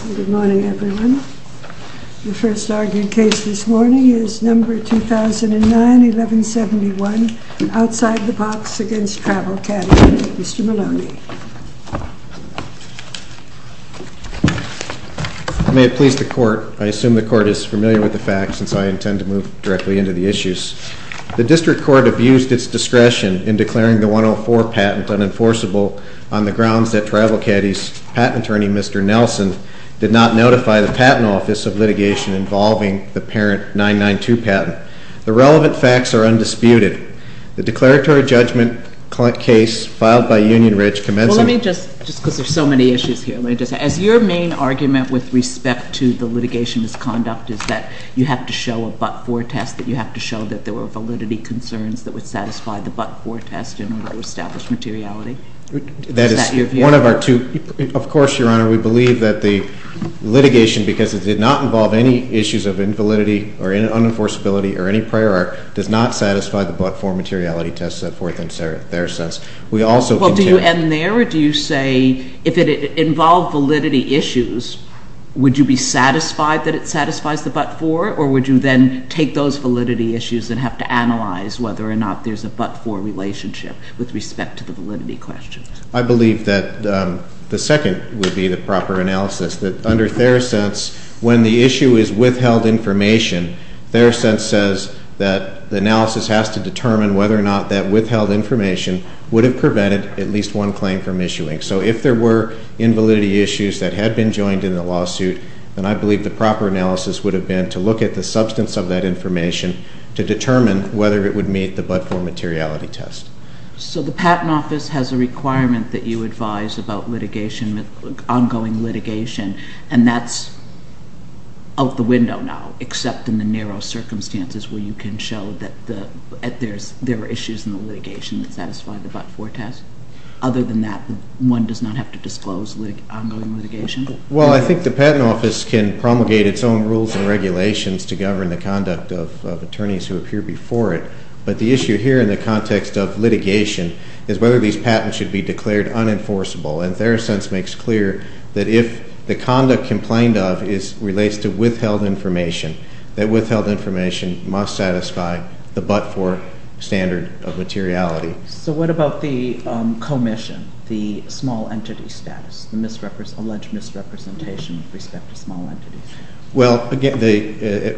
Mr. Maloney. May it please the Court. I assume the Court is familiar with the fact, since I intend to move directly into the issues. The District Court abused its discretion in Patent Attorney, Mr. Nelson, you do not notify the Patent Office of litigation involving the parent 992 patent. The relevant facts are undisputed. The declaratory judgment case filed by Union Ridge Commencement ec- currently having been outlatched. Er, let me just, cause there's just so many issues here, let me just say, as your main argument with respect to the litigation's conduct is that you have to show a but-for test, you have to show that there were validity concerns that would satisfy the but-for test in order to establish materiality. Is that your view? That is one of our two, of course, Your Honor, we believe that the litigation, because it did not involve any issues of invalidity or unenforceability or any prior art, does not satisfy the but-for materiality test, set forth in their sense. We also- Well, do you end there, or do you say, if it involved validity issues, would you be satisfied that it satisfies the but-for, or would you then take those validity issues and have to analyze whether or not there's a but-for relationship with respect to the validity questions? I believe that, um, the second would be the proper analysis, that under their sense, when the issue is withheld information, their sense says that the analysis has to determine whether or not that withheld information would have prevented at least one claim from issuing. So if there were invalidity issues that had been joined in the lawsuit, then I believe the proper analysis would have been to look at the substance of that information to determine whether it would meet the but-for materiality test. So the Patent Office has a requirement that you advise about litigation, ongoing litigation, and that's out the window now, except in the narrow circumstances where you can show that there are issues in the litigation that satisfy the but-for test? Other than that, one does not have to disclose ongoing litigation? Well, I think the Patent Office can promulgate its own rules and regulations to govern the conduct of attorneys who appear before it, but the issue here in the context of litigation is whether these patents should be declared unenforceable, and their sense makes clear that if the conduct complained of relates to withheld information, that withheld information must satisfy the but-for standard of materiality. So what about the commission, the small entity status, the alleged misrepresentation with respect to small entities? Well, again,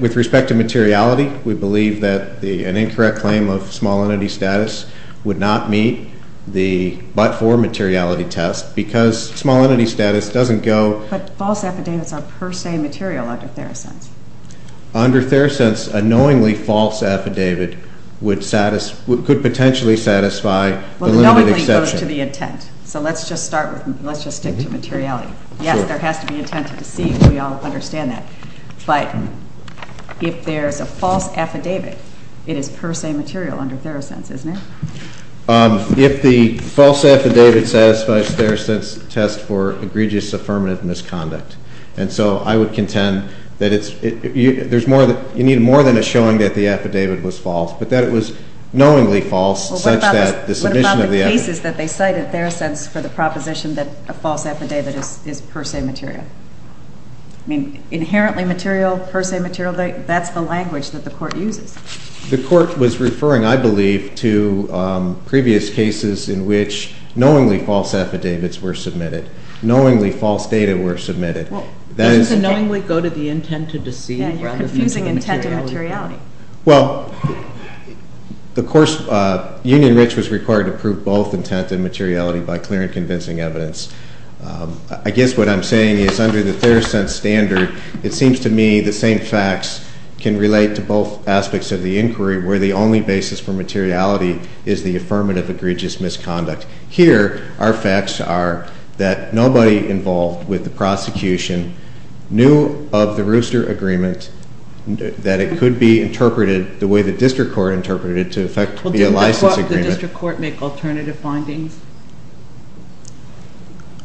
with respect to materiality, we believe that an incorrect claim of small entity status would not meet the but-for materiality test because small entity status doesn't go – But false affidavits are per se material under Theracents. Under Theracents, a knowingly false affidavit would – could potentially satisfy the limited exception. Well, the knowingly goes to the intent, so let's just start with – let's just stick to materiality. Sure. Yes, there has to be intent to deceive. We all understand that. But if there's a false affidavit, it is per se material under Theracents, isn't it? If the false affidavit satisfies Theracents' test for egregious affirmative misconduct. And so I would contend that it's – there's more – you need more than a showing that the affidavit was false, but that it was knowingly false such that the submission of the affidavit – Well, what about the cases that they cite at Theracents for the proposition that a false affidavit is per se material? I mean, inherently material, per se material, that's the language that the Court uses. The Court was referring, I believe, to previous cases in which knowingly false affidavits were submitted, knowingly false data were submitted. Well, doesn't the knowingly go to the intent to deceive rather than to the materiality? Yeah, you're confusing intent and materiality. Well, the Court's – Union Rich was required to prove both intent and materiality by clear and convincing evidence. I guess what I'm saying is under the Theracents standard, it seems to me the same facts can relate to both aspects of the inquiry where the only basis for materiality is the affirmative egregious misconduct. Here, our facts are that nobody involved with the prosecution knew of the rooster agreement, that it could be interpreted the way the district court interpreted it to affect the license agreement. Well, didn't the district court make alternative findings?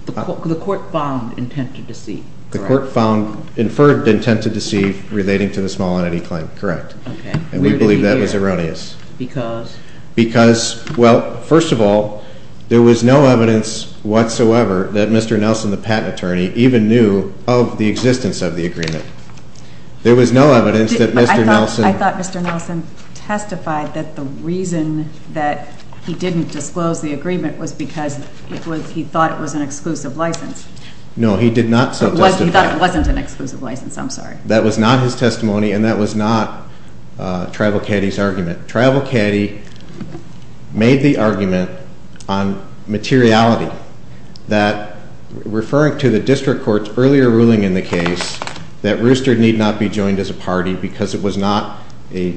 The Court found intent to deceive, correct? The Court found – inferred intent to deceive relating to the small entity claim, correct. Okay. And we believe that was erroneous. Because? Because, well, first of all, there was no evidence whatsoever that Mr. Nelson, the patent attorney, even knew of the existence of the agreement. There was no evidence that Mr. Nelson – I thought Mr. Nelson testified that the reason that he didn't disclose the agreement was because he thought it was an exclusive license. No, he did not so testify. He thought it wasn't an exclusive license. I'm sorry. That was not his testimony and that was not Tribal Caddy's argument. Tribal Caddy made the argument on materiality that referring to the district court's earlier ruling in the case that Rooster need not be joined as a party because it was not a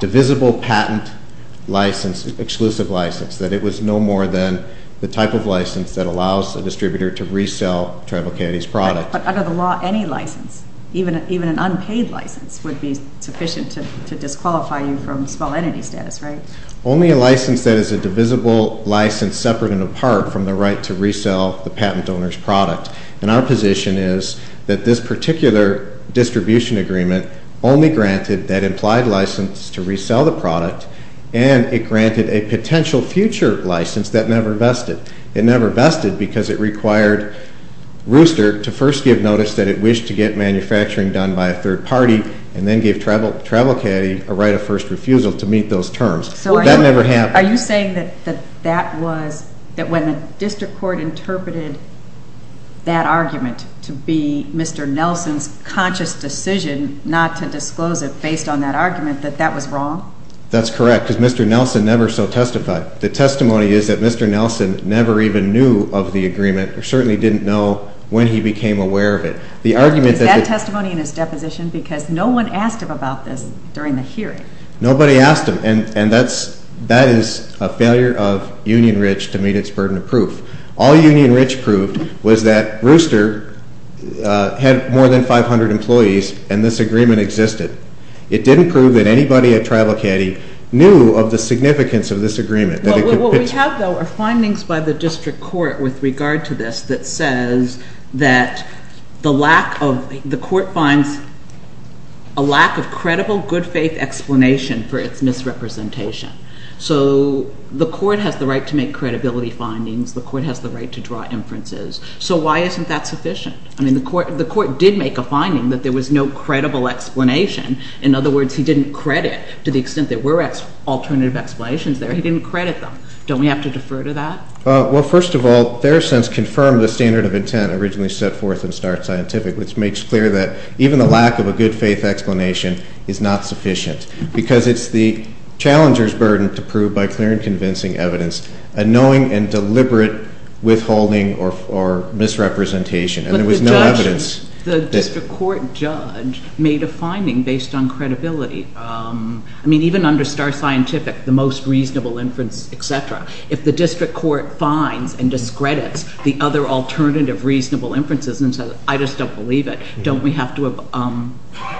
divisible patent license, exclusive license, that it was no more than the type of license that allows a distributor to resell Tribal Caddy's product. But under the law, any license, even an unpaid license, would be sufficient to disqualify you from small entity status, right? Only a license that is a divisible license separate and apart from the right to resell the patent owner's product. And our position is that this particular distribution agreement only granted that implied license to resell the product and it granted a potential future license that never vested. It never vested because it required Rooster to first give notice that it wished to get manufacturing done by a third party and then give Tribal Caddy a right of first refusal to meet those terms. That never happened. Are you saying that that was, that when the district court interpreted that argument to be Mr. Nelson's conscious decision not to disclose it based on that argument, that that was wrong? That's correct, because Mr. Nelson never so testified. The testimony is that Mr. Nelson never even knew of the agreement or certainly didn't know when he became aware of it. The argument that... Is that testimony in his deposition because no one asked him about this during the hearing? Nobody asked him and that is a failure of Union Ridge to meet its burden of proof. All Union Ridge proved was that Rooster had more than 500 employees and this agreement existed. It didn't prove that anybody at Tribal Caddy knew of the significance of this agreement. What we have though are findings by the district court with regard to this that says that the lack of, the court finds a lack of credible good faith explanation for its misrepresentation. So the court has the right to make credibility findings, the court has the right to draw inferences, so why isn't that sufficient? I mean the court did make a finding that there was no credible explanation. In other words, he didn't credit, to the extent there were alternative explanations there, he didn't credit them. Don't we have to defer to that? Well, first of all, their sense confirmed the standard of intent originally set forth in Start Scientific, which makes clear that even the lack of a good faith explanation is not sufficient, because it's the challenger's burden to prove by clear and convincing evidence a knowing and deliberate withholding or misrepresentation and there was no evidence. The district court judge made a finding based on credibility. I mean even under Start Scientific, the most reasonable inference, etc. If the district court finds and discredits the other alternative reasonable inferences and says, I just don't believe it, don't we have to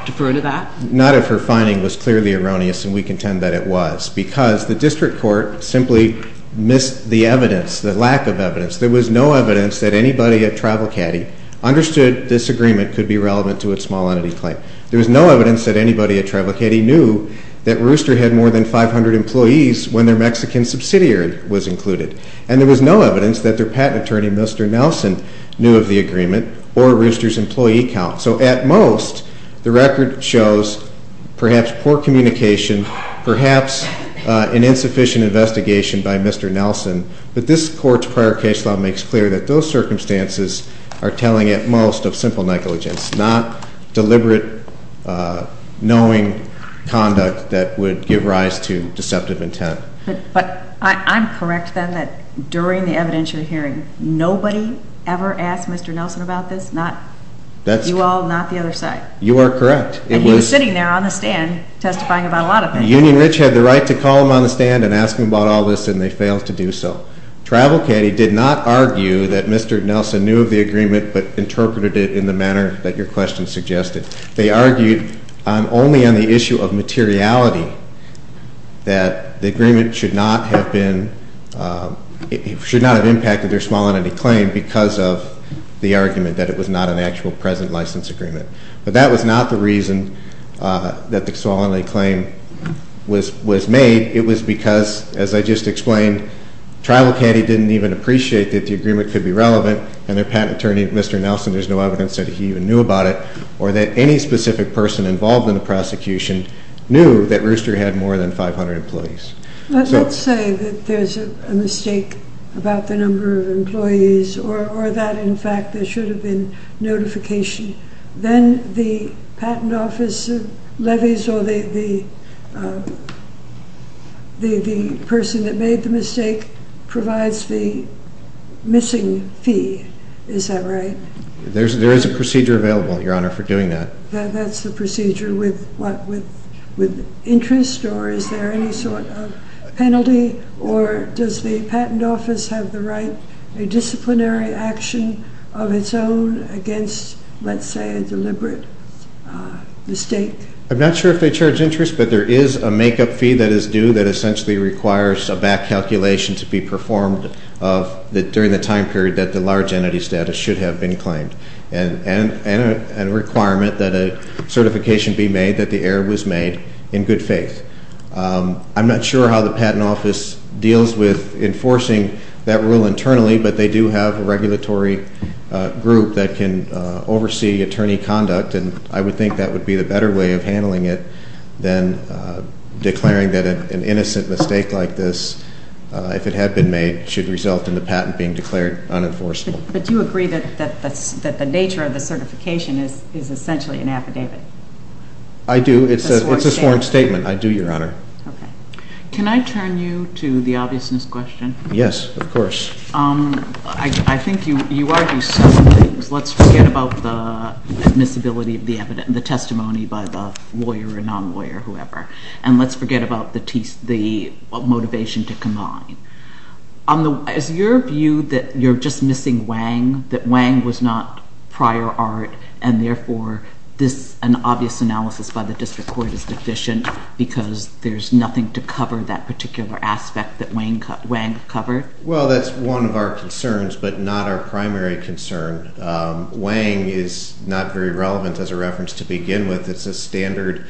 defer to that? Not if her finding was clearly erroneous and we contend that it was, because the district court simply missed the evidence, the lack of evidence. There was no evidence that anybody at Tribal Caddy understood this agreement could be relevant to a small entity claim. There was no evidence that anybody at Tribal Caddy knew that Rooster had more than 500 employees when their Mexican subsidiary was included and there was no evidence that their patent attorney, Mr. Nelson, knew of the agreement or Rooster's employee count. So at most, the record shows perhaps poor communication, perhaps an insufficient investigation by Mr. Nelson, but this court's prior case law makes clear that those circumstances are telling at most of simple negligence, not deliberate knowing conduct that would give rise to deceptive intent. But I'm correct then that during the evidentiary hearing, nobody ever asked Mr. Nelson about this, not you all, not the other side? You are correct. And he was sitting there on the stand testifying about a lot of things. Union Ridge had the right to call him on the stand and ask him about all this and they failed to do so. Tribal Caddy did not argue that Mr. Nelson knew of the agreement but interpreted it in the manner that your question suggested. They argued only on the issue of materiality that the agreement should not have been, should not have impacted their small entity claim because of the argument that it was not an actual present license agreement. But that was not the reason that the small entity claim was made. It was because, as I just explained, Tribal Caddy didn't even appreciate that the agreement could be relevant and their patent attorney, Mr. Nelson, there's no evidence that he even knew about it or that any specific person involved in the prosecution knew that Rooster had more than 500 employees. Let's say that there's a mistake about the number of employees or that, in fact, there should have been notification. Then the patent office levies or the person that made the mistake provides the missing fee. Is that right? There's there is a procedure available, your honor, for doing that. That's the procedure with what? With a disciplinary action of its own against, let's say, a deliberate mistake. I'm not sure if they charge interest but there is a makeup fee that is due that essentially requires a back calculation to be performed of that during the time period that the large entity status should have been claimed and a requirement that a certification be made that the error was made in good faith. I'm not sure how the patent office deals with enforcing that rule internally but they do have a regulatory group that can oversee attorney conduct and I would think that would be the better way of handling it than declaring that an innocent mistake like this, if it had been made, should result in the patent being declared unenforceable. But do you agree that the nature of the certification is essentially an affidavit? I do. It's a sworn statement. I do, your honor. Can I turn you to the obviousness question? Yes, of course. I think you argue several things. Let's forget about the admissibility of the evidence, the testimony by the lawyer or non-lawyer, whoever, and let's forget about the motivation to combine. Is your view that you're just missing Wang, that Wang was not prior art and therefore an obvious analysis by the district court is deficient because there's nothing to cover that particular aspect that Wang covered? Well, that's one of our concerns but not our primary concern. Wang is not very relevant as a reference to begin with. It's a standard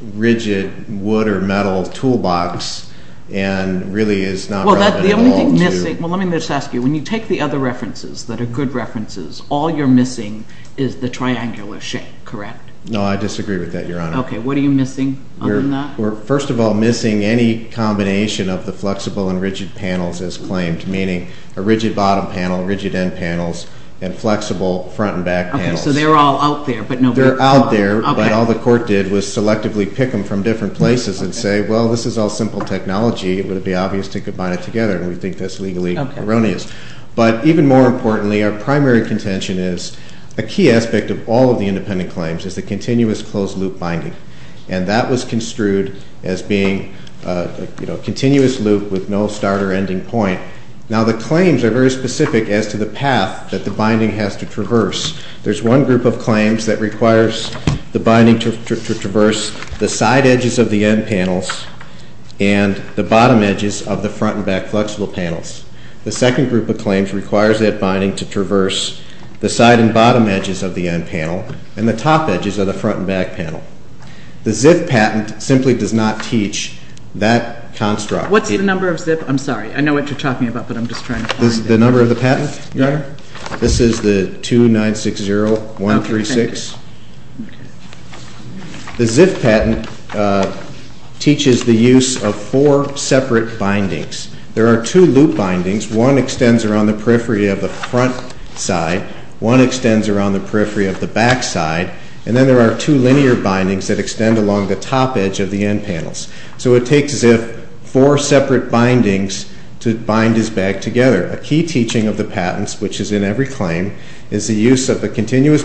rigid wood or metal toolbox and really is not relevant at all. Well, let me just ask you, when you take the other references that are good references, all you're missing is the triangular shape, correct? No, I disagree with that, your honor. Okay, what are you missing? First of all, missing any combination of the flexible and rigid panels as claimed, meaning a rigid bottom panel, rigid end panels, and flexible front and back panels. Okay, so they're all out there. They're out there but all the court did was selectively pick them from different places and say, well, this is all simple technology. It would be obvious to combine it together and we think that's legally erroneous. But even more importantly, our primary contention is a key aspect of all of the independent claims is the continuous closed loop binding. And that was construed as being a continuous loop with no start or ending point. Now, the claims are very specific as to the path that the binding has to traverse. There's one group of claims that requires the binding to traverse the side edges of the end panels and the bottom edges of the front and back flexible panels. The second group of claims requires that binding to traverse the side and bottom edges of the end panel and the top edges of the front and back panel. The ZIF patent simply does not teach that construct. What's the number of ZIF? I'm sorry, I know what you're talking about but I'm just trying to find it. The number of the patent, your honor? This is the 2960-136. The ZIF patent teaches the use of four separate bindings. There are two loop bindings. One extends around the periphery of the front side. One extends around the periphery of the back side. And then there are two linear bindings that extend along the top edge of the end panels. So it takes ZIF four separate bindings to bind his back together. A key point is that ZIF is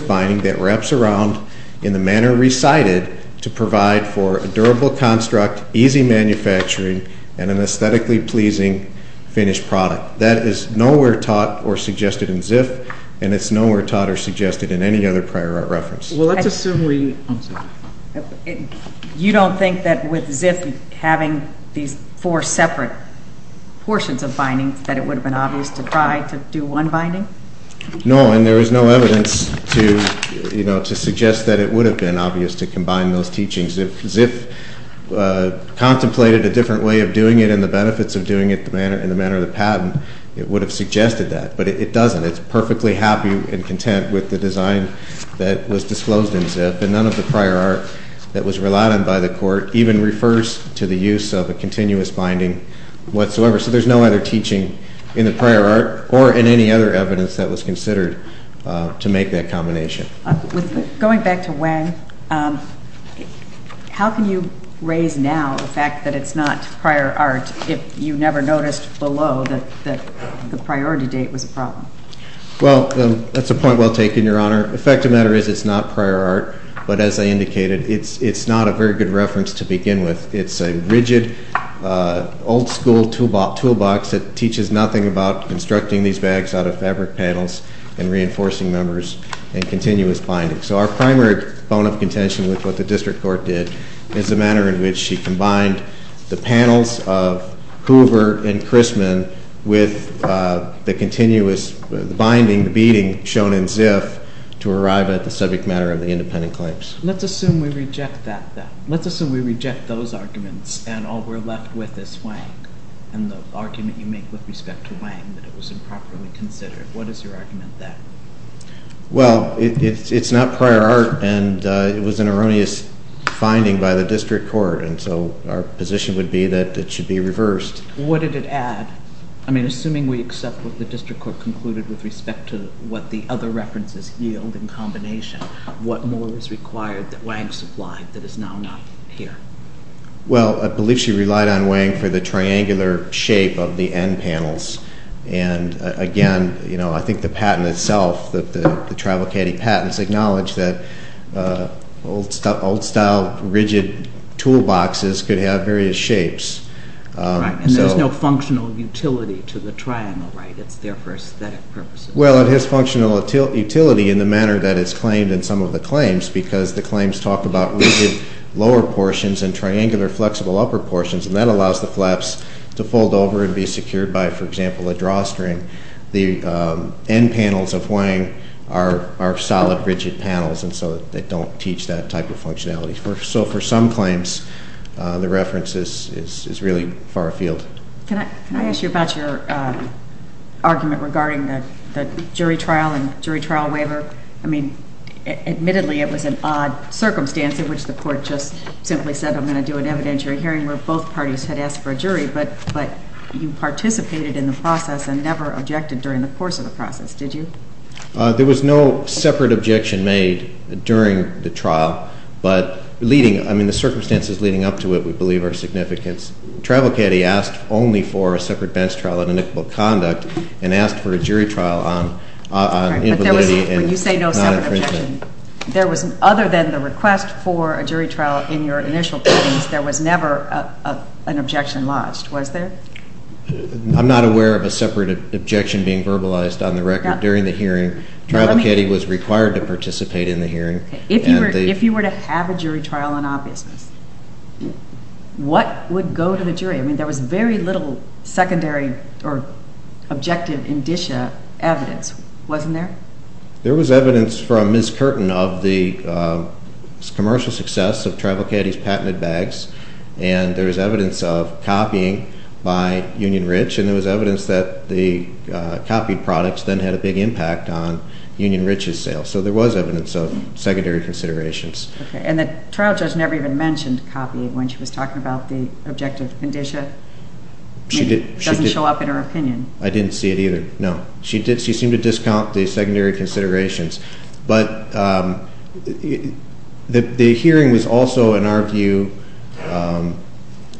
found in the manner recited to provide for a durable construct, easy manufacturing, and an aesthetically pleasing finished product. That is nowhere taught or suggested in ZIF and it's nowhere taught or suggested in any other prior art reference. You don't think that with ZIF having these four separate portions of bindings that it would have been obvious to try to do one binding? No, and there is no evidence to, you know, to suggest that it would have been obvious to combine those teachings. If ZIF contemplated a different way of doing it and the benefits of doing it in the manner of the patent, it would have suggested that. But it doesn't. It's perfectly happy and content with the design that was disclosed in ZIF and none of the prior art that was relied on by the court even refers to the use of a continuous binding whatsoever. So there's no other teaching in the prior art or in any other Going back to Wang, how can you raise now the fact that it's not prior art if you never noticed below that the priority date was a problem? Well, that's a point well taken, Your Honor. The fact of the matter is it's not prior art, but as I indicated, it's not a very good reference to begin with. It's a rigid, old school toolbox that teaches nothing about constructing these The primary bone of contention with what the district court did is the manner in which she combined the panels of Hoover and Christman with the continuous binding, the beating shown in ZIF to arrive at the subject matter of the independent claims. Let's assume we reject that then. Let's assume we reject those arguments and all we're left with is Wang and the argument you make with respect to Wang that it was improperly considered. What is your argument there? Well, it's not prior art and it was an erroneous finding by the district court and so our position would be that it should be reversed. What did it add? I mean, assuming we accept what the district court concluded with respect to what the other references yield in combination, what more is required that Wang supplied that is now not here? Well, I believe she relied on Wang for the triangular shape of the end panels and again, you know, I think the patent itself, the travel caddy patents acknowledge that old style rigid toolboxes could have various shapes. Right, and there's no functional utility to the triangle, right? It's there for aesthetic purposes. Well, it has functional utility in the manner that it's claimed and some of the claims because the claims talk about rigid lower portions and triangular flexible upper portions and that allows the flaps to fold over and be secured by, for example, a drawstring. The end panels of Wang are solid rigid panels and so they don't teach that type of functionality. So for some claims, the reference is really far afield. Can I ask you about your argument regarding the jury trial and jury trial waiver? I mean, admittedly it was an odd circumstance in which the court just simply said, I'm going to do an evidentiary hearing where both parties had asked for a jury, but you participated in the process and never objected during the course of the process, did you? There was no separate objection made during the trial, but leading, I mean, the circumstances leading up to it, we believe are significant. Travel caddy asked only for a jury trial. When you say no separate objection, there was, other than the request for a jury trial in your initial hearings, there was never an objection lodged, was there? I'm not aware of a separate objection being verbalized on the record during the hearing. Travel caddy was required to participate in the hearing. If you were to have a jury trial on obviousness, what would go to the jury? I mean, there was very little secondary or objective indicia evidence, wasn't there? There was evidence from Ms. Curtin of the commercial success of Travel Caddy's patented bags, and there was evidence of copying by Union Rich, and there was evidence that the copied products then had a big impact on Union Rich's sales, so there was evidence of secondary considerations. And the trial judge never even mentioned copying when she was talking about the objective indicia? She didn't. It doesn't show up in her opinion. I didn't see it either, no. She seemed to discount the secondary considerations, but the hearing was also, in our view,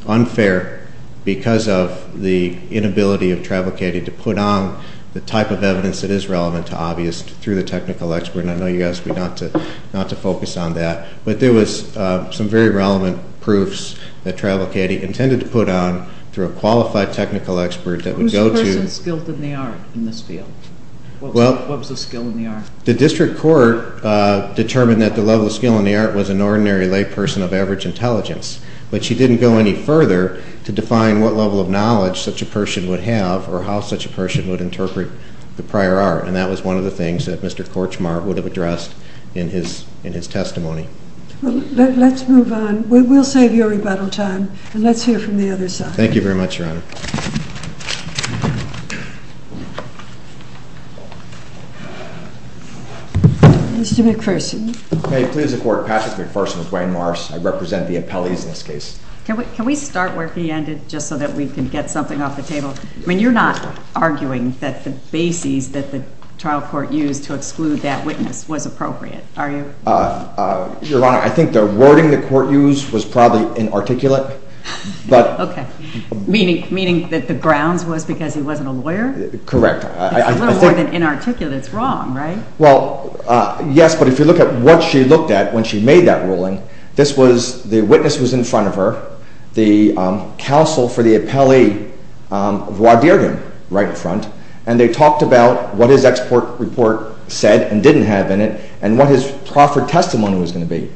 unfair because of the inability of Travel Caddy to put on the type of evidence that is relevant to obvious through the technical expert, and I know you asked me not to focus on that, but there was some very relevant proofs that Travel Caddy intended to put on through a qualified technical expert that would go to... Who's the person skilled in the art in this field? What was the skill in the art? The district court determined that the level of skill in the art was an ordinary layperson of average intelligence, but she didn't go any further to define what level of knowledge such a person would have or how such a person would interpret the prior art, and that was one of the things that Mr. McPherson pointed out in his testimony. Let's move on. We'll save your rebuttal time, and let's hear from the other side. Thank you very much, Your Honor. Mr. McPherson. May it please the Court, Patrick McPherson with Wayne Morris. I represent the appellees in this case. Can we start where he ended just so that we can get something off the table? I mean, you're not arguing that the wording the court used to exclude that witness was appropriate, are you? Your Honor, I think the wording the court used was probably inarticulate, but... Okay. Meaning that the grounds was because he wasn't a lawyer? Correct. It's a little more than inarticulate. It's wrong, right? Well, yes, but if you look at what she looked at when she made that ruling, this was, the witness was in front of her, the counsel for the appellee right in front, and they talked about what his export report said and didn't have in it, and what his proffered testimony was going to be,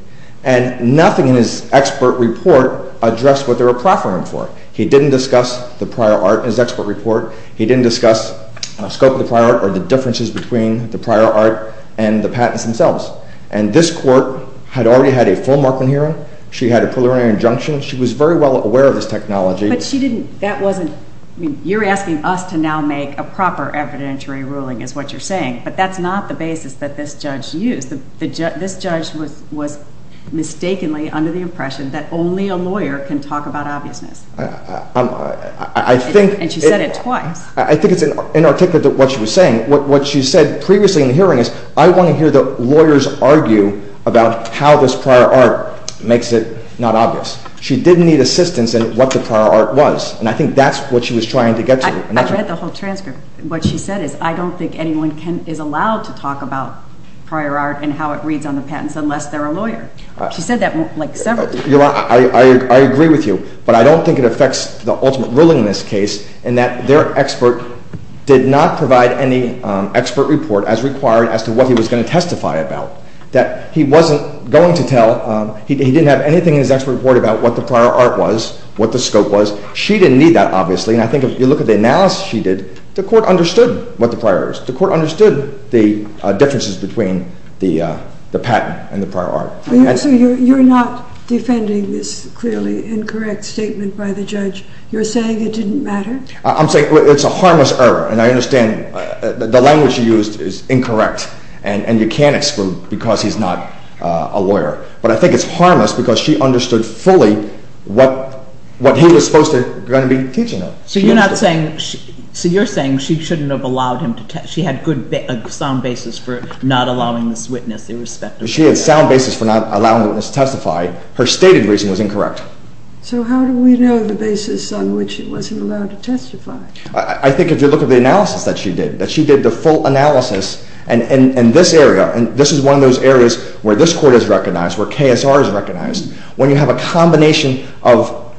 and nothing in his export report addressed what they were proffering for. He didn't discuss the prior art in his export report. He didn't discuss the scope of the prior art or the differences between the prior art and the patents themselves, and this court had already had a full Markland hearing. She had a preliminary injunction. She was very well aware of this technology. But she didn't, that wasn't, you're asking us to now make a proper evidentiary ruling is what you're saying, but that's not the basis that this judge used. This judge was mistakenly under the impression that only a lawyer can talk about obviousness. And she said it twice. I think it's inarticulate what she was saying. What she said previously in the hearing is, I want to hear the lawyers argue about how this prior art makes it not obvious. She didn't need assistance in what the prior art was, and I think that's what she was trying to get to. I read the whole transcript. What she said is, I don't think anyone is allowed to talk about prior art and how it reads on the patents unless they're a lawyer. She said that like several times. I agree with you, but I don't think it affects the ultimate ruling in this case in that their expert did not provide any expert report as required as to what he was going to testify about, that he wasn't going to tell, he didn't have anything in his expert report about what the prior art was, what the scope was. She didn't need that, obviously, and I think if you look at the analysis she did, the court understood what the prior art is. The court understood the differences between the patent and the prior art. So you're not defending this clearly incorrect statement by the judge? You're saying it didn't matter? I'm saying it's a harmless error, and I understand the language she used is incorrect, and you can't exclude because he's not a lawyer, but I think it's harmless because she understood fully what he was supposed to be going to be teaching them. So you're saying she shouldn't have allowed him to testify, she had good sound basis for not allowing this witness irrespective. She had sound basis for not allowing this witness to testify. Her stated reason was incorrect. So how do we know the basis on which he wasn't allowed to testify? I think if you look at the analysis that she did, that she did the full analysis in this area, and this is one of those areas where this court is recognized, where KSR is recognized, when you have a combination of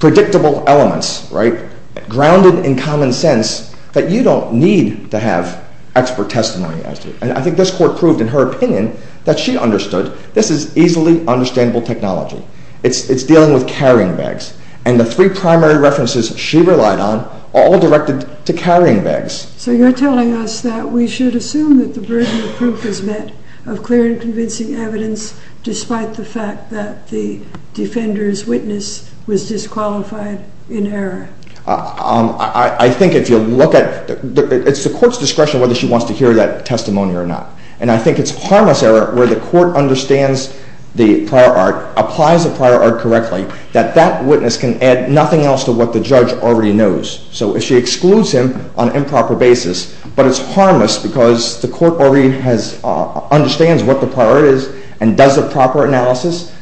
predictable elements, right, grounded in common sense, that you don't need to have expert testimony. And I think this court proved in her opinion that she understood this is easily understandable technology. It's dealing with carrying bags, and the three primary references she relied on are all directed to carrying bags. So you're telling us that we should assume that the burden of proof is met, of clear and convincing evidence, despite the fact that the defender's witness was disqualified in error? I think if you look at, it's the court's discretion whether she wants to hear that testimony or not. And I think it's harmless error where the court understands the prior art, applies the prior art correctly, that that witness can add nothing else to what the judge already knows. So if she excludes him on improper basis, but it's harmless because the court already understands what the prior art is and does the proper analysis,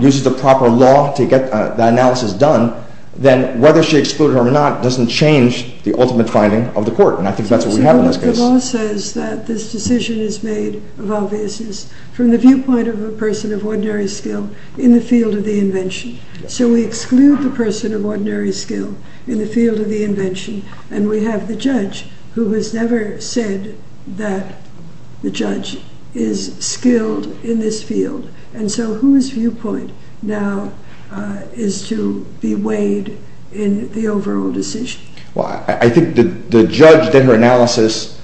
uses the proper law to get the analysis done, then whether she excluded him or not doesn't change the ultimate finding of the court. And I think that's what we have in this case. But the law says that this decision is made of obviousness from the viewpoint of a person of ordinary skill in the field of the invention. So we exclude the person of ordinary skill in the field of the invention, and we have the judge who has never said that the judge is skilled in this field. And so whose viewpoint now is to be weighed in the overall decision? Well, I think the judge did her analysis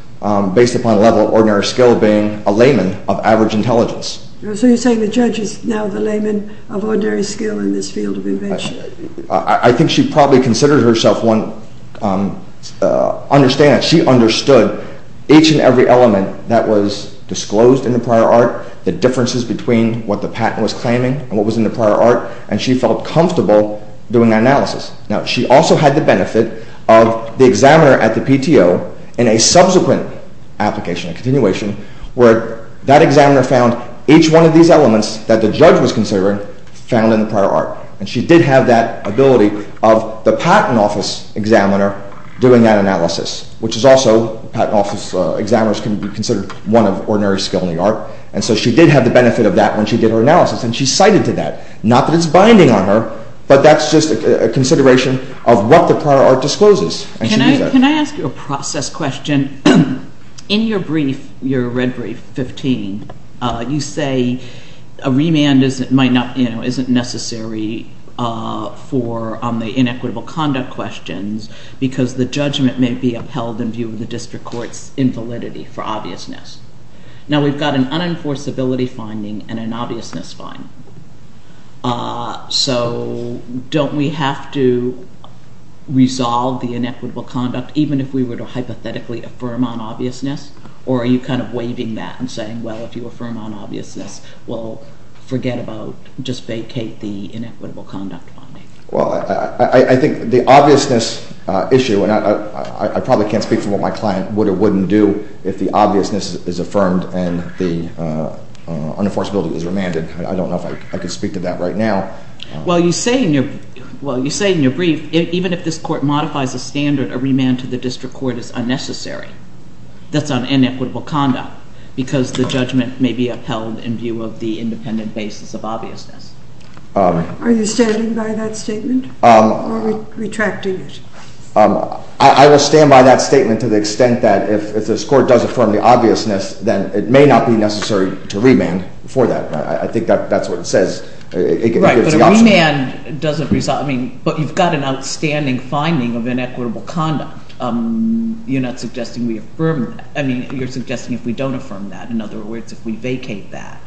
based upon the level of ordinary skill being a layman of average intelligence. So you're saying the judge is now the layman of ordinary skill in this field of invention? I think she probably considered herself one. She understood each and every element that was disclosed in the prior art, the differences between what the patent was claiming and what was in the prior art, and she felt comfortable doing that analysis. Now, she also had the benefit of the examiner at the PTO in a subsequent application, a continuation, where that examiner found each one of these elements that the judge was considering found in the prior art. And she did have that ability of the patent office examiner doing that analysis, which is also patent office examiners can be considered one of ordinary skill in the art. And so she did have the benefit of that when she did her analysis, and she cited to that. Not that it's binding on her, but that's just a consideration of what the prior art discloses. Can I ask you a process question? In your brief, your red brief 15, you say a remand isn't necessary for the inequitable conduct questions because the judgment may be upheld in view of the district court's invalidity for obviousness. Now, we've got an unenforceability finding and an obviousness finding. So don't we have to resolve the inequitable conduct even if we were to hypothetically affirm on obviousness? Or are you kind of waiving that and saying, well, if you affirm on obviousness, we'll forget about, just vacate the inequitable conduct finding? Well, I think the obviousness issue, and I probably can't speak for what my client would or wouldn't do if the obviousness is affirmed and the unenforceability is remanded. I don't know if I could speak to that right now. Well, you say in your brief, even if this court modifies the standard, a remand to the district court is unnecessary. That's on inequitable conduct because the judgment may be upheld in view of the independent basis of obviousness. Are you standing by that statement or retracting it? I will stand by that statement to the extent that if this court does affirm the obviousness, then it may not be necessary to remand for that. I think that's what it says. Right, but a remand doesn't resolve. I mean, but you've got an outstanding finding of inequitable conduct. You're not suggesting we affirm that. I mean, you're suggesting if we don't affirm that. In other words, if we vacate that,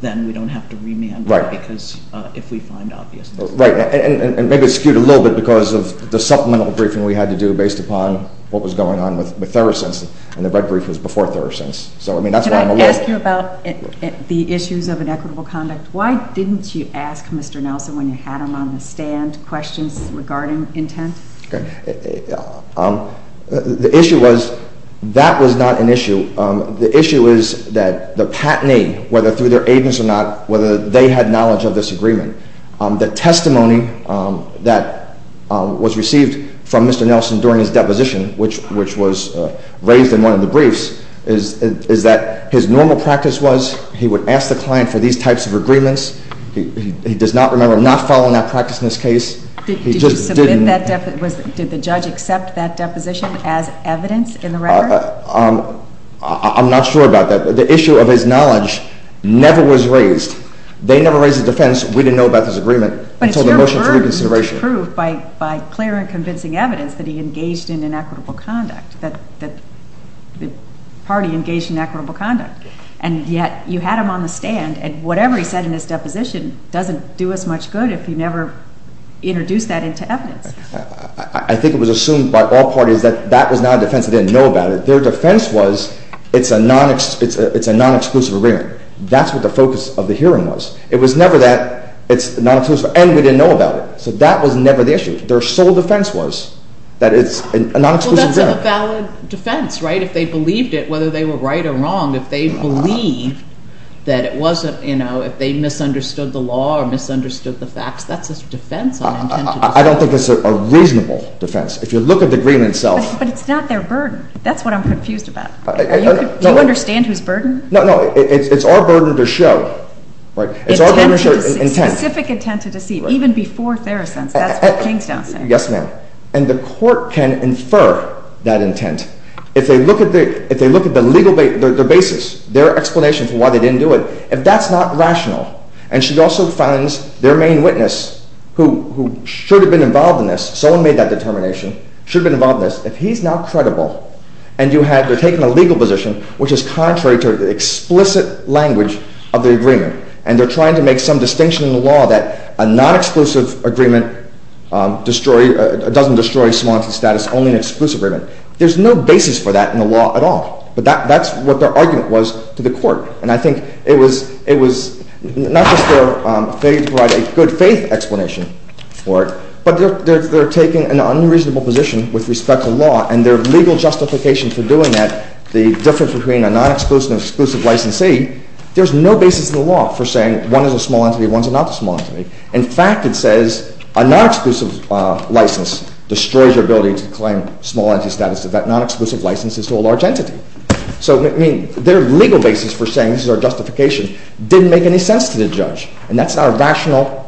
then we don't have to remand. Right. Because if we find obviousness. Right. And maybe it's skewed a little bit because of the supplemental briefing we had to do based upon what was going on with Therosense, and the red brief was before Therosense. So, I mean, that's what I'm aware of. Can I ask you about the issues of inequitable conduct? Why didn't you ask Mr. Nelson when you had him on the stand questions regarding intent? The issue was that was not an issue. The issue is that the patinee, whether through their agents or not, whether they had knowledge of this agreement, the testimony that was received from Mr. Nelson during his deposition, which was raised in one of the briefs, is that his normal practice was he would ask the client for these types of agreements. He does not remember not following that practice in this case. Did the judge accept that deposition as evidence in the record? I'm not sure about that. The issue of his knowledge never was raised. They never raised a defense. We didn't know about this agreement until the motion for reconsideration. But it's your burden to prove by clear and convincing evidence that he engaged in inequitable conduct, that the party engaged in inequitable conduct. And yet you had him on the stand, and whatever he said in his deposition doesn't do us much good if you never introduce that into evidence. I think it was assumed by all parties that that was not a defense. They didn't know about it. Their defense was it's a non-exclusive agreement. That's what the focus of the hearing was. It was never that it's non-exclusive, and we didn't know about it. So that was never the issue. Their sole defense was that it's a non-exclusive agreement. Well, that's a valid defense, right? If they believed it, whether they were right or wrong, if they believed that it wasn't, you know, if they misunderstood the law or misunderstood the facts, that's a defense on intent. I don't think it's a reasonable defense. If you look at the agreement itself— But it's not their burden. That's what I'm confused about. Do you understand who's burden? No, no. It's our burden to show, right? It's our burden to show intent. Specific intent to deceive, even before Theracent's. That's what King's down saying. Yes, ma'am. And the court can infer that intent. If they look at the legal basis, their explanation for why they didn't do it, if that's not rational, and she also finds their main witness, who should have been involved in this, someone made that determination, should have been involved in this. If he's not credible, and you have—they're taking a legal position, which is contrary to the explicit language of the agreement, and they're trying to make some distinction in the law that a non-exclusive agreement doesn't destroy small entity status, only an exclusive agreement. There's no basis for that in the law at all. But that's what their argument was to the court. And I think it was not just their failure to provide a good faith explanation for it, but they're taking an unreasonable position with respect to law, and their legal justification for doing that, the difference between a non-exclusive and exclusive licensee, there's no basis in the law for saying one is a small entity and one is not a small entity. In fact, it says a non-exclusive license destroys your ability to claim small entity status if that non-exclusive license is to a large entity. So, I mean, their legal basis for saying this is our justification didn't make any sense to the judge, and that's not a rational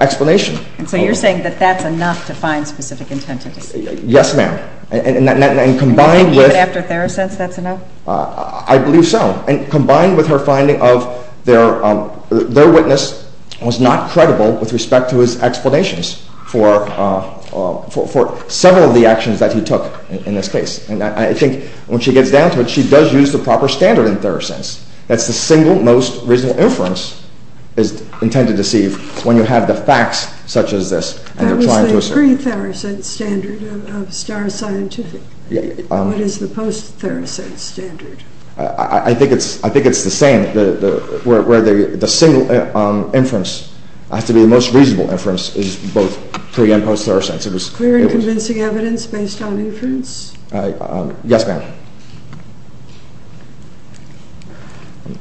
explanation. And so you're saying that that's enough to find specific intentions? Yes, ma'am. And combined with— Even after Theros says that's enough? I believe so. And combined with her finding of their witness was not credible with respect to his explanations for several of the actions that he took in this case. And I think when she gets down to it, she does use the proper standard in Therosense. That's the single most reasonable inference is intended to see when you have the facts such as this. That was the pre-Therosense standard of Star Scientific. What is the post-Therosense standard? I think it's the same, where the single inference has to be the most reasonable inference, is both pre- and post-Therosense. Clear and convincing evidence based on inference? Yes, ma'am.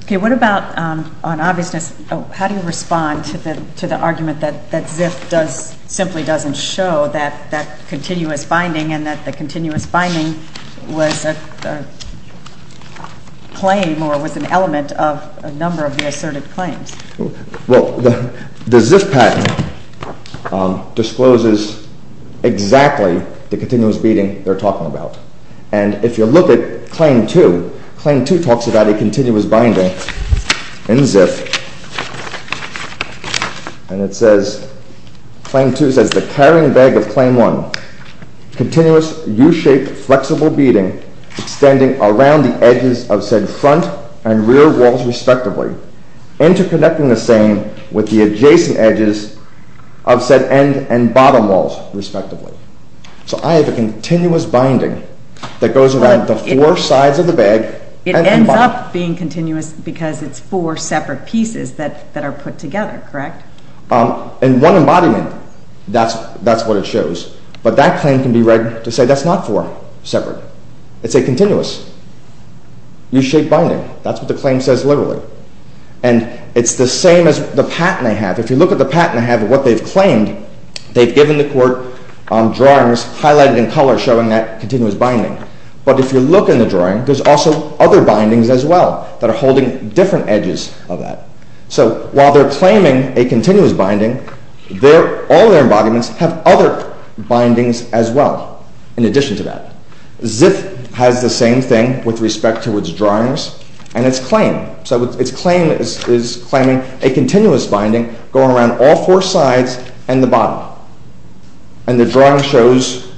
Okay, what about on obviousness? How do you respond to the argument that ZIF simply doesn't show that continuous finding and that the continuous finding was a claim or was an element of a number of the asserted claims? Well, the ZIF patent discloses exactly the continuous beating they're talking about. And if you look at Claim 2, Claim 2 talks about a continuous binding in ZIF. And it says, Claim 2 says, The carrying bag of Claim 1. Continuous U-shaped flexible beating extending around the edges of said front and rear walls respectively. Interconnecting the same with the adjacent edges of said end and bottom walls respectively. So I have a continuous binding that goes around the four sides of the bag. It ends up being continuous because it's four separate pieces that are put together, correct? In one embodiment, that's what it shows. But that claim can be read to say that's not four separate. It's a continuous U-shaped binding. That's what the claim says literally. And it's the same as the patent I have. If you look at the patent I have of what they've claimed, they've given the court drawings highlighted in color showing that continuous binding. But if you look in the drawing, there's also other bindings as well that are holding different edges of that. So while they're claiming a continuous binding, all their embodiments have other bindings as well in addition to that. Zipf has the same thing with respect to its drawings and its claim. So its claim is claiming a continuous binding going around all four sides and the bottom. And the drawing shows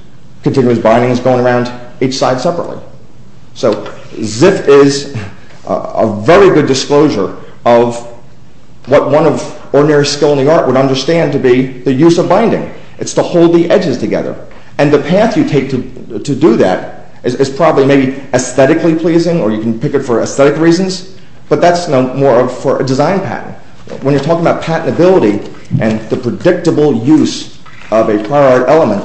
continuous bindings going around each side separately. So Zipf is a very good disclosure of what one of ordinary skill in the art would understand to be the use of binding. It's to hold the edges together. And the path you take to do that is probably maybe aesthetically pleasing or you can pick it for aesthetic reasons, but that's more for a design patent. When you're talking about patentability and the predictable use of a prior art element,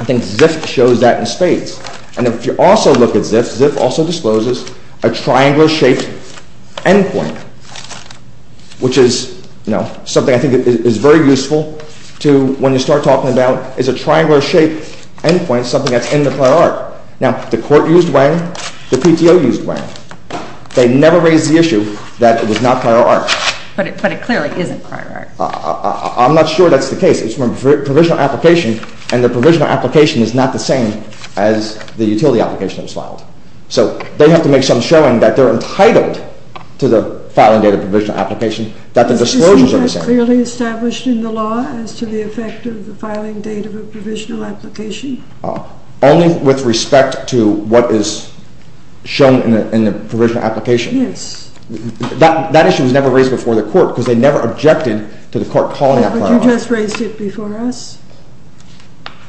I think Zipf shows that in spades. And if you also look at Zipf, Zipf also discloses a triangular-shaped endpoint, which is, you know, something I think is very useful to when you start talking about is a triangular-shaped endpoint, something that's in the prior art. Now, the court used Wang. The PTO used Wang. They never raised the issue that it was not prior art. But it clearly isn't prior art. I'm not sure that's the case. It's from a provisional application, and the provisional application is not the same as the utility application that was filed. So they have to make some showing that they're entitled to the filing date of a provisional application, that the disclosures are the same. Isn't that clearly established in the law as to the effect of the filing date of a provisional application? Only with respect to what is shown in the provisional application. Yes. That issue was never raised before the court because they never objected to the court calling that prior art. But you just raised it before us,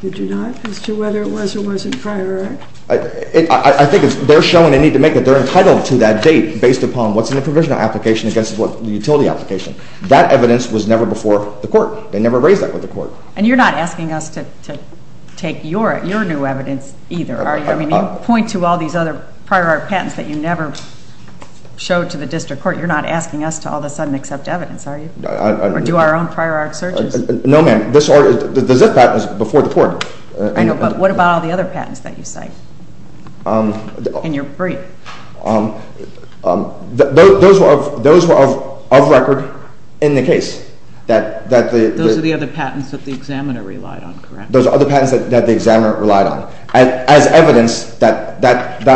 did you not, as to whether it was or wasn't prior art? I think they're showing a need to make it. They're entitled to that date based upon what's in the provisional application against the utility application. That evidence was never before the court. They never raised that with the court. And you're not asking us to take your new evidence either, are you? I mean, you point to all these other prior art patents that you never showed to the district court. You're not asking us to all of a sudden accept evidence, are you? Or do our own prior art searches? No, ma'am. The ZIF patent is before the court. I know, but what about all the other patents that you cite? And you're free. Those were of record in the case. Those are the other patents that the examiner relied on, correct? Those are other patents that the examiner relied on. As evidence, that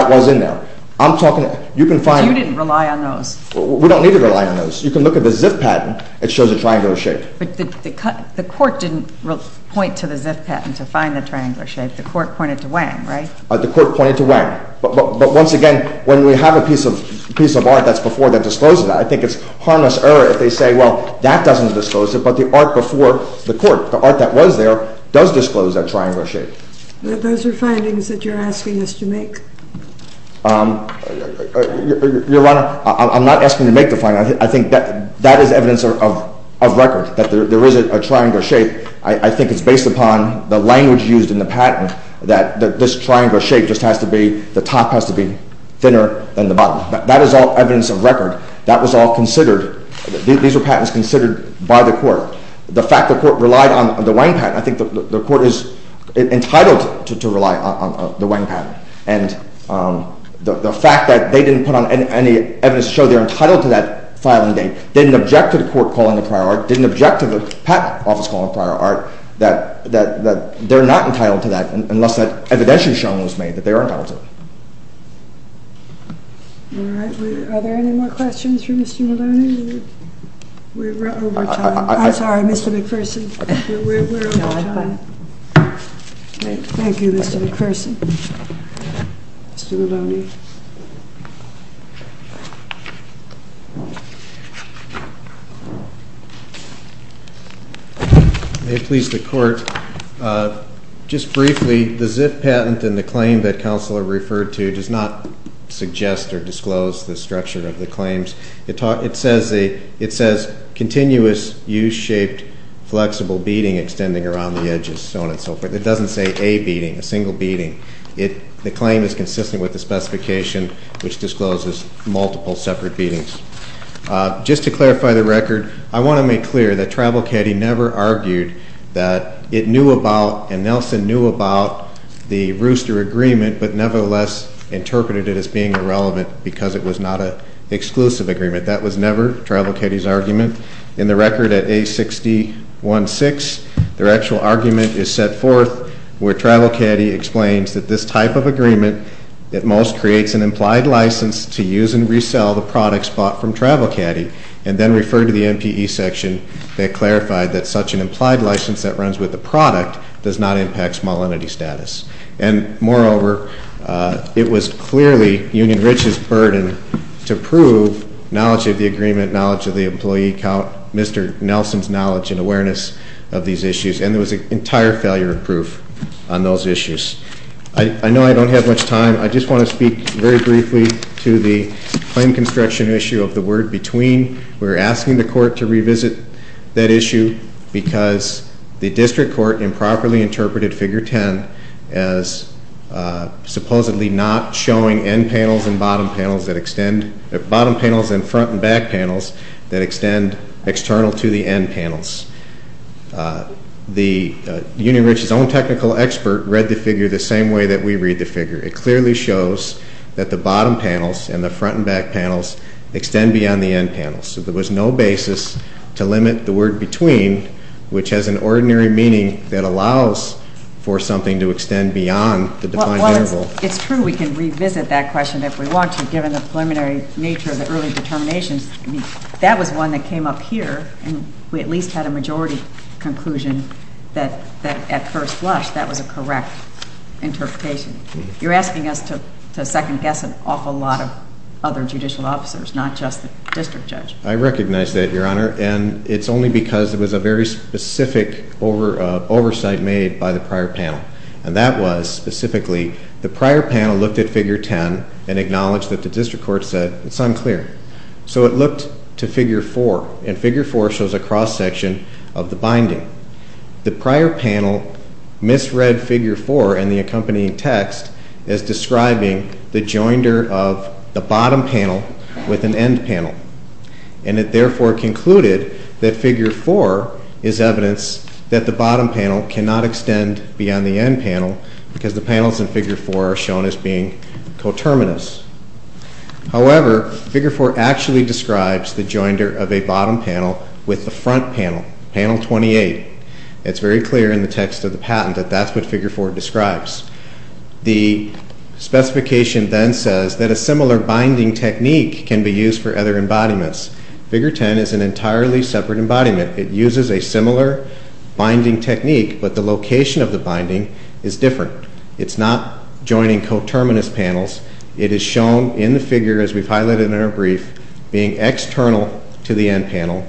was in there. I'm talking, you can find it. So you didn't rely on those? We don't need to rely on those. You can look at the ZIF patent. It shows a triangle shape. But the court didn't point to the ZIF patent to find the triangle shape. The court pointed to Wang, right? The court pointed to Wang. But once again, when we have a piece of art that's before that discloses that, I think it's harmless error if they say, well, that doesn't disclose it, but the art before the court, the art that was there, does disclose that triangle shape. Those are findings that you're asking us to make? Your Honor, I'm not asking you to make the findings. I think that is evidence of record, that there is a triangle shape. I think it's based upon the language used in the patent, that this triangle shape just has to be, the top has to be thinner than the bottom. That is all evidence of record. That was all considered. These were patents considered by the court. The fact the court relied on the Wang patent, I think the court is entitled to rely on the Wang patent. And the fact that they didn't put on any evidence to show they're entitled to that filing date, didn't object to the court calling the prior art, didn't object to the patent office calling the prior art, that they're not entitled to that unless that evidential showing was made that they are entitled to it. All right. Are there any more questions for Mr. Maloney? We're over time. I'm sorry, Mr. McPherson. We're over time. Thank you, Mr. McPherson. Mr. Maloney. May it please the court, just briefly, the ZIF patent and the claim that Counselor referred to does not suggest or disclose the structure of the claims. It says continuous U-shaped flexible beading extending around the edges, so on and so forth. It doesn't say a beading, a single beading. The claim is consistent with the specification, which discloses multiple separate beadings. Just to clarify the record, I want to make clear that Travel Caddy never argued that it knew about and Nelson knew about the rooster agreement, but nevertheless interpreted it as being irrelevant because it was not an exclusive agreement. That was never Travel Caddy's argument. In the record at A60.1.6, their actual argument is set forth where Travel Caddy explains that this type of agreement at most creates an implied license to use and resell the products bought from Travel Caddy and then referred to the MPE section that clarified that such an implied license that runs with the product does not impact small entity status. And moreover, it was clearly Union Rich's burden to prove knowledge of the agreement, knowledge of the employee count, Mr. Nelson's knowledge and awareness of these issues, and there was an entire failure of proof on those issues. I know I don't have much time. I just want to speak very briefly to the claim construction issue of the word between. We're asking the court to revisit that issue because the district court improperly interpreted Figure 10 as supposedly not showing end panels and bottom panels that extend, bottom panels and front and back panels that extend external to the end panels. Union Rich's own technical expert read the figure the same way that we read the figure. It clearly shows that the bottom panels and the front and back panels extend beyond the end panels. So there was no basis to limit the word between, which has an ordinary meaning that allows for something to extend beyond the defined interval. Well, it's true we can revisit that question if we want to, given the preliminary nature of the early determinations. That was one that came up here, and we at least had a majority conclusion that at first blush that was a correct interpretation. You're asking us to second-guess an awful lot of other judicial officers, not just the district judge. I recognize that, Your Honor, and it's only because it was a very specific oversight made by the prior panel, and that was specifically the prior panel looked at Figure 10 and acknowledged that the district court said it's unclear. So it looked to Figure 4, and Figure 4 shows a cross-section of the binding. The prior panel misread Figure 4 and the accompanying text as describing the joinder of the bottom panel with an end panel, and it therefore concluded that Figure 4 is evidence that the bottom panel cannot extend beyond the end panel because the panels in Figure 4 are shown as being coterminous. However, Figure 4 actually describes the joinder of a bottom panel with the front panel, panel 28. It's very clear in the text of the patent that that's what Figure 4 describes. The specification then says that a similar binding technique can be used for other embodiments. Figure 10 is an entirely separate embodiment. It uses a similar binding technique, but the location of the binding is different. It's not joining coterminous panels. It is shown in the figure, as we've highlighted in our brief, being external to the end panel.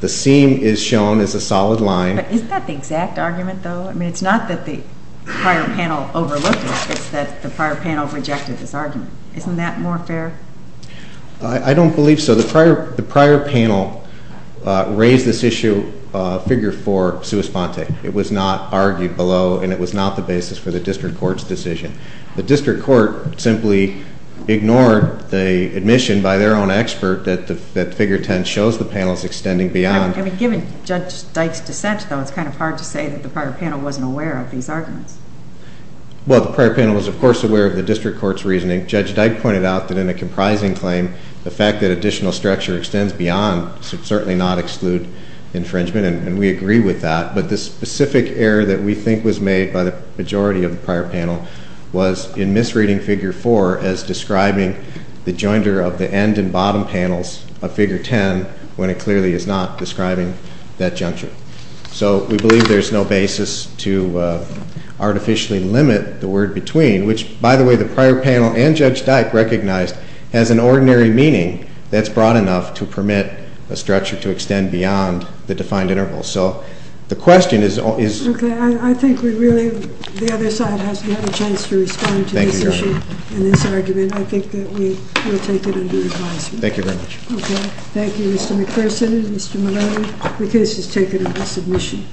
The seam is shown as a solid line. But isn't that the exact argument, though? I mean, it's not that the prior panel overlooked it. It's that the prior panel rejected this argument. Isn't that more fair? I don't believe so. The prior panel raised this issue, Figure 4, sua sponte. It was not argued below, and it was not the basis for the district court's decision. The district court simply ignored the admission by their own expert that Figure 10 shows the panels extending beyond. Given Judge Dyke's dissent, though, it's kind of hard to say that the prior panel wasn't aware of these arguments. Well, the prior panel was, of course, aware of the district court's reasoning. Judge Dyke pointed out that in a comprising claim, the fact that additional structure extends beyond should certainly not exclude infringement. And we agree with that. But the specific error that we think was made by the majority of the prior panel was in misreading Figure 4 as describing the jointer of the end and bottom panels of Figure 10 when it clearly is not describing that juncture. So we believe there's no basis to artificially limit the word between, which, by the way, the prior panel and Judge Dyke recognized as an ordinary meaning that's broad enough to permit a structure to extend beyond the defined interval. So the question is... Okay. I think we really... The other side has another chance to respond to this issue and this argument. I think that we will take it under advisement. Thank you very much. Okay. Thank you, Mr. McPherson and Mr. Maloney. The case is taken under submission.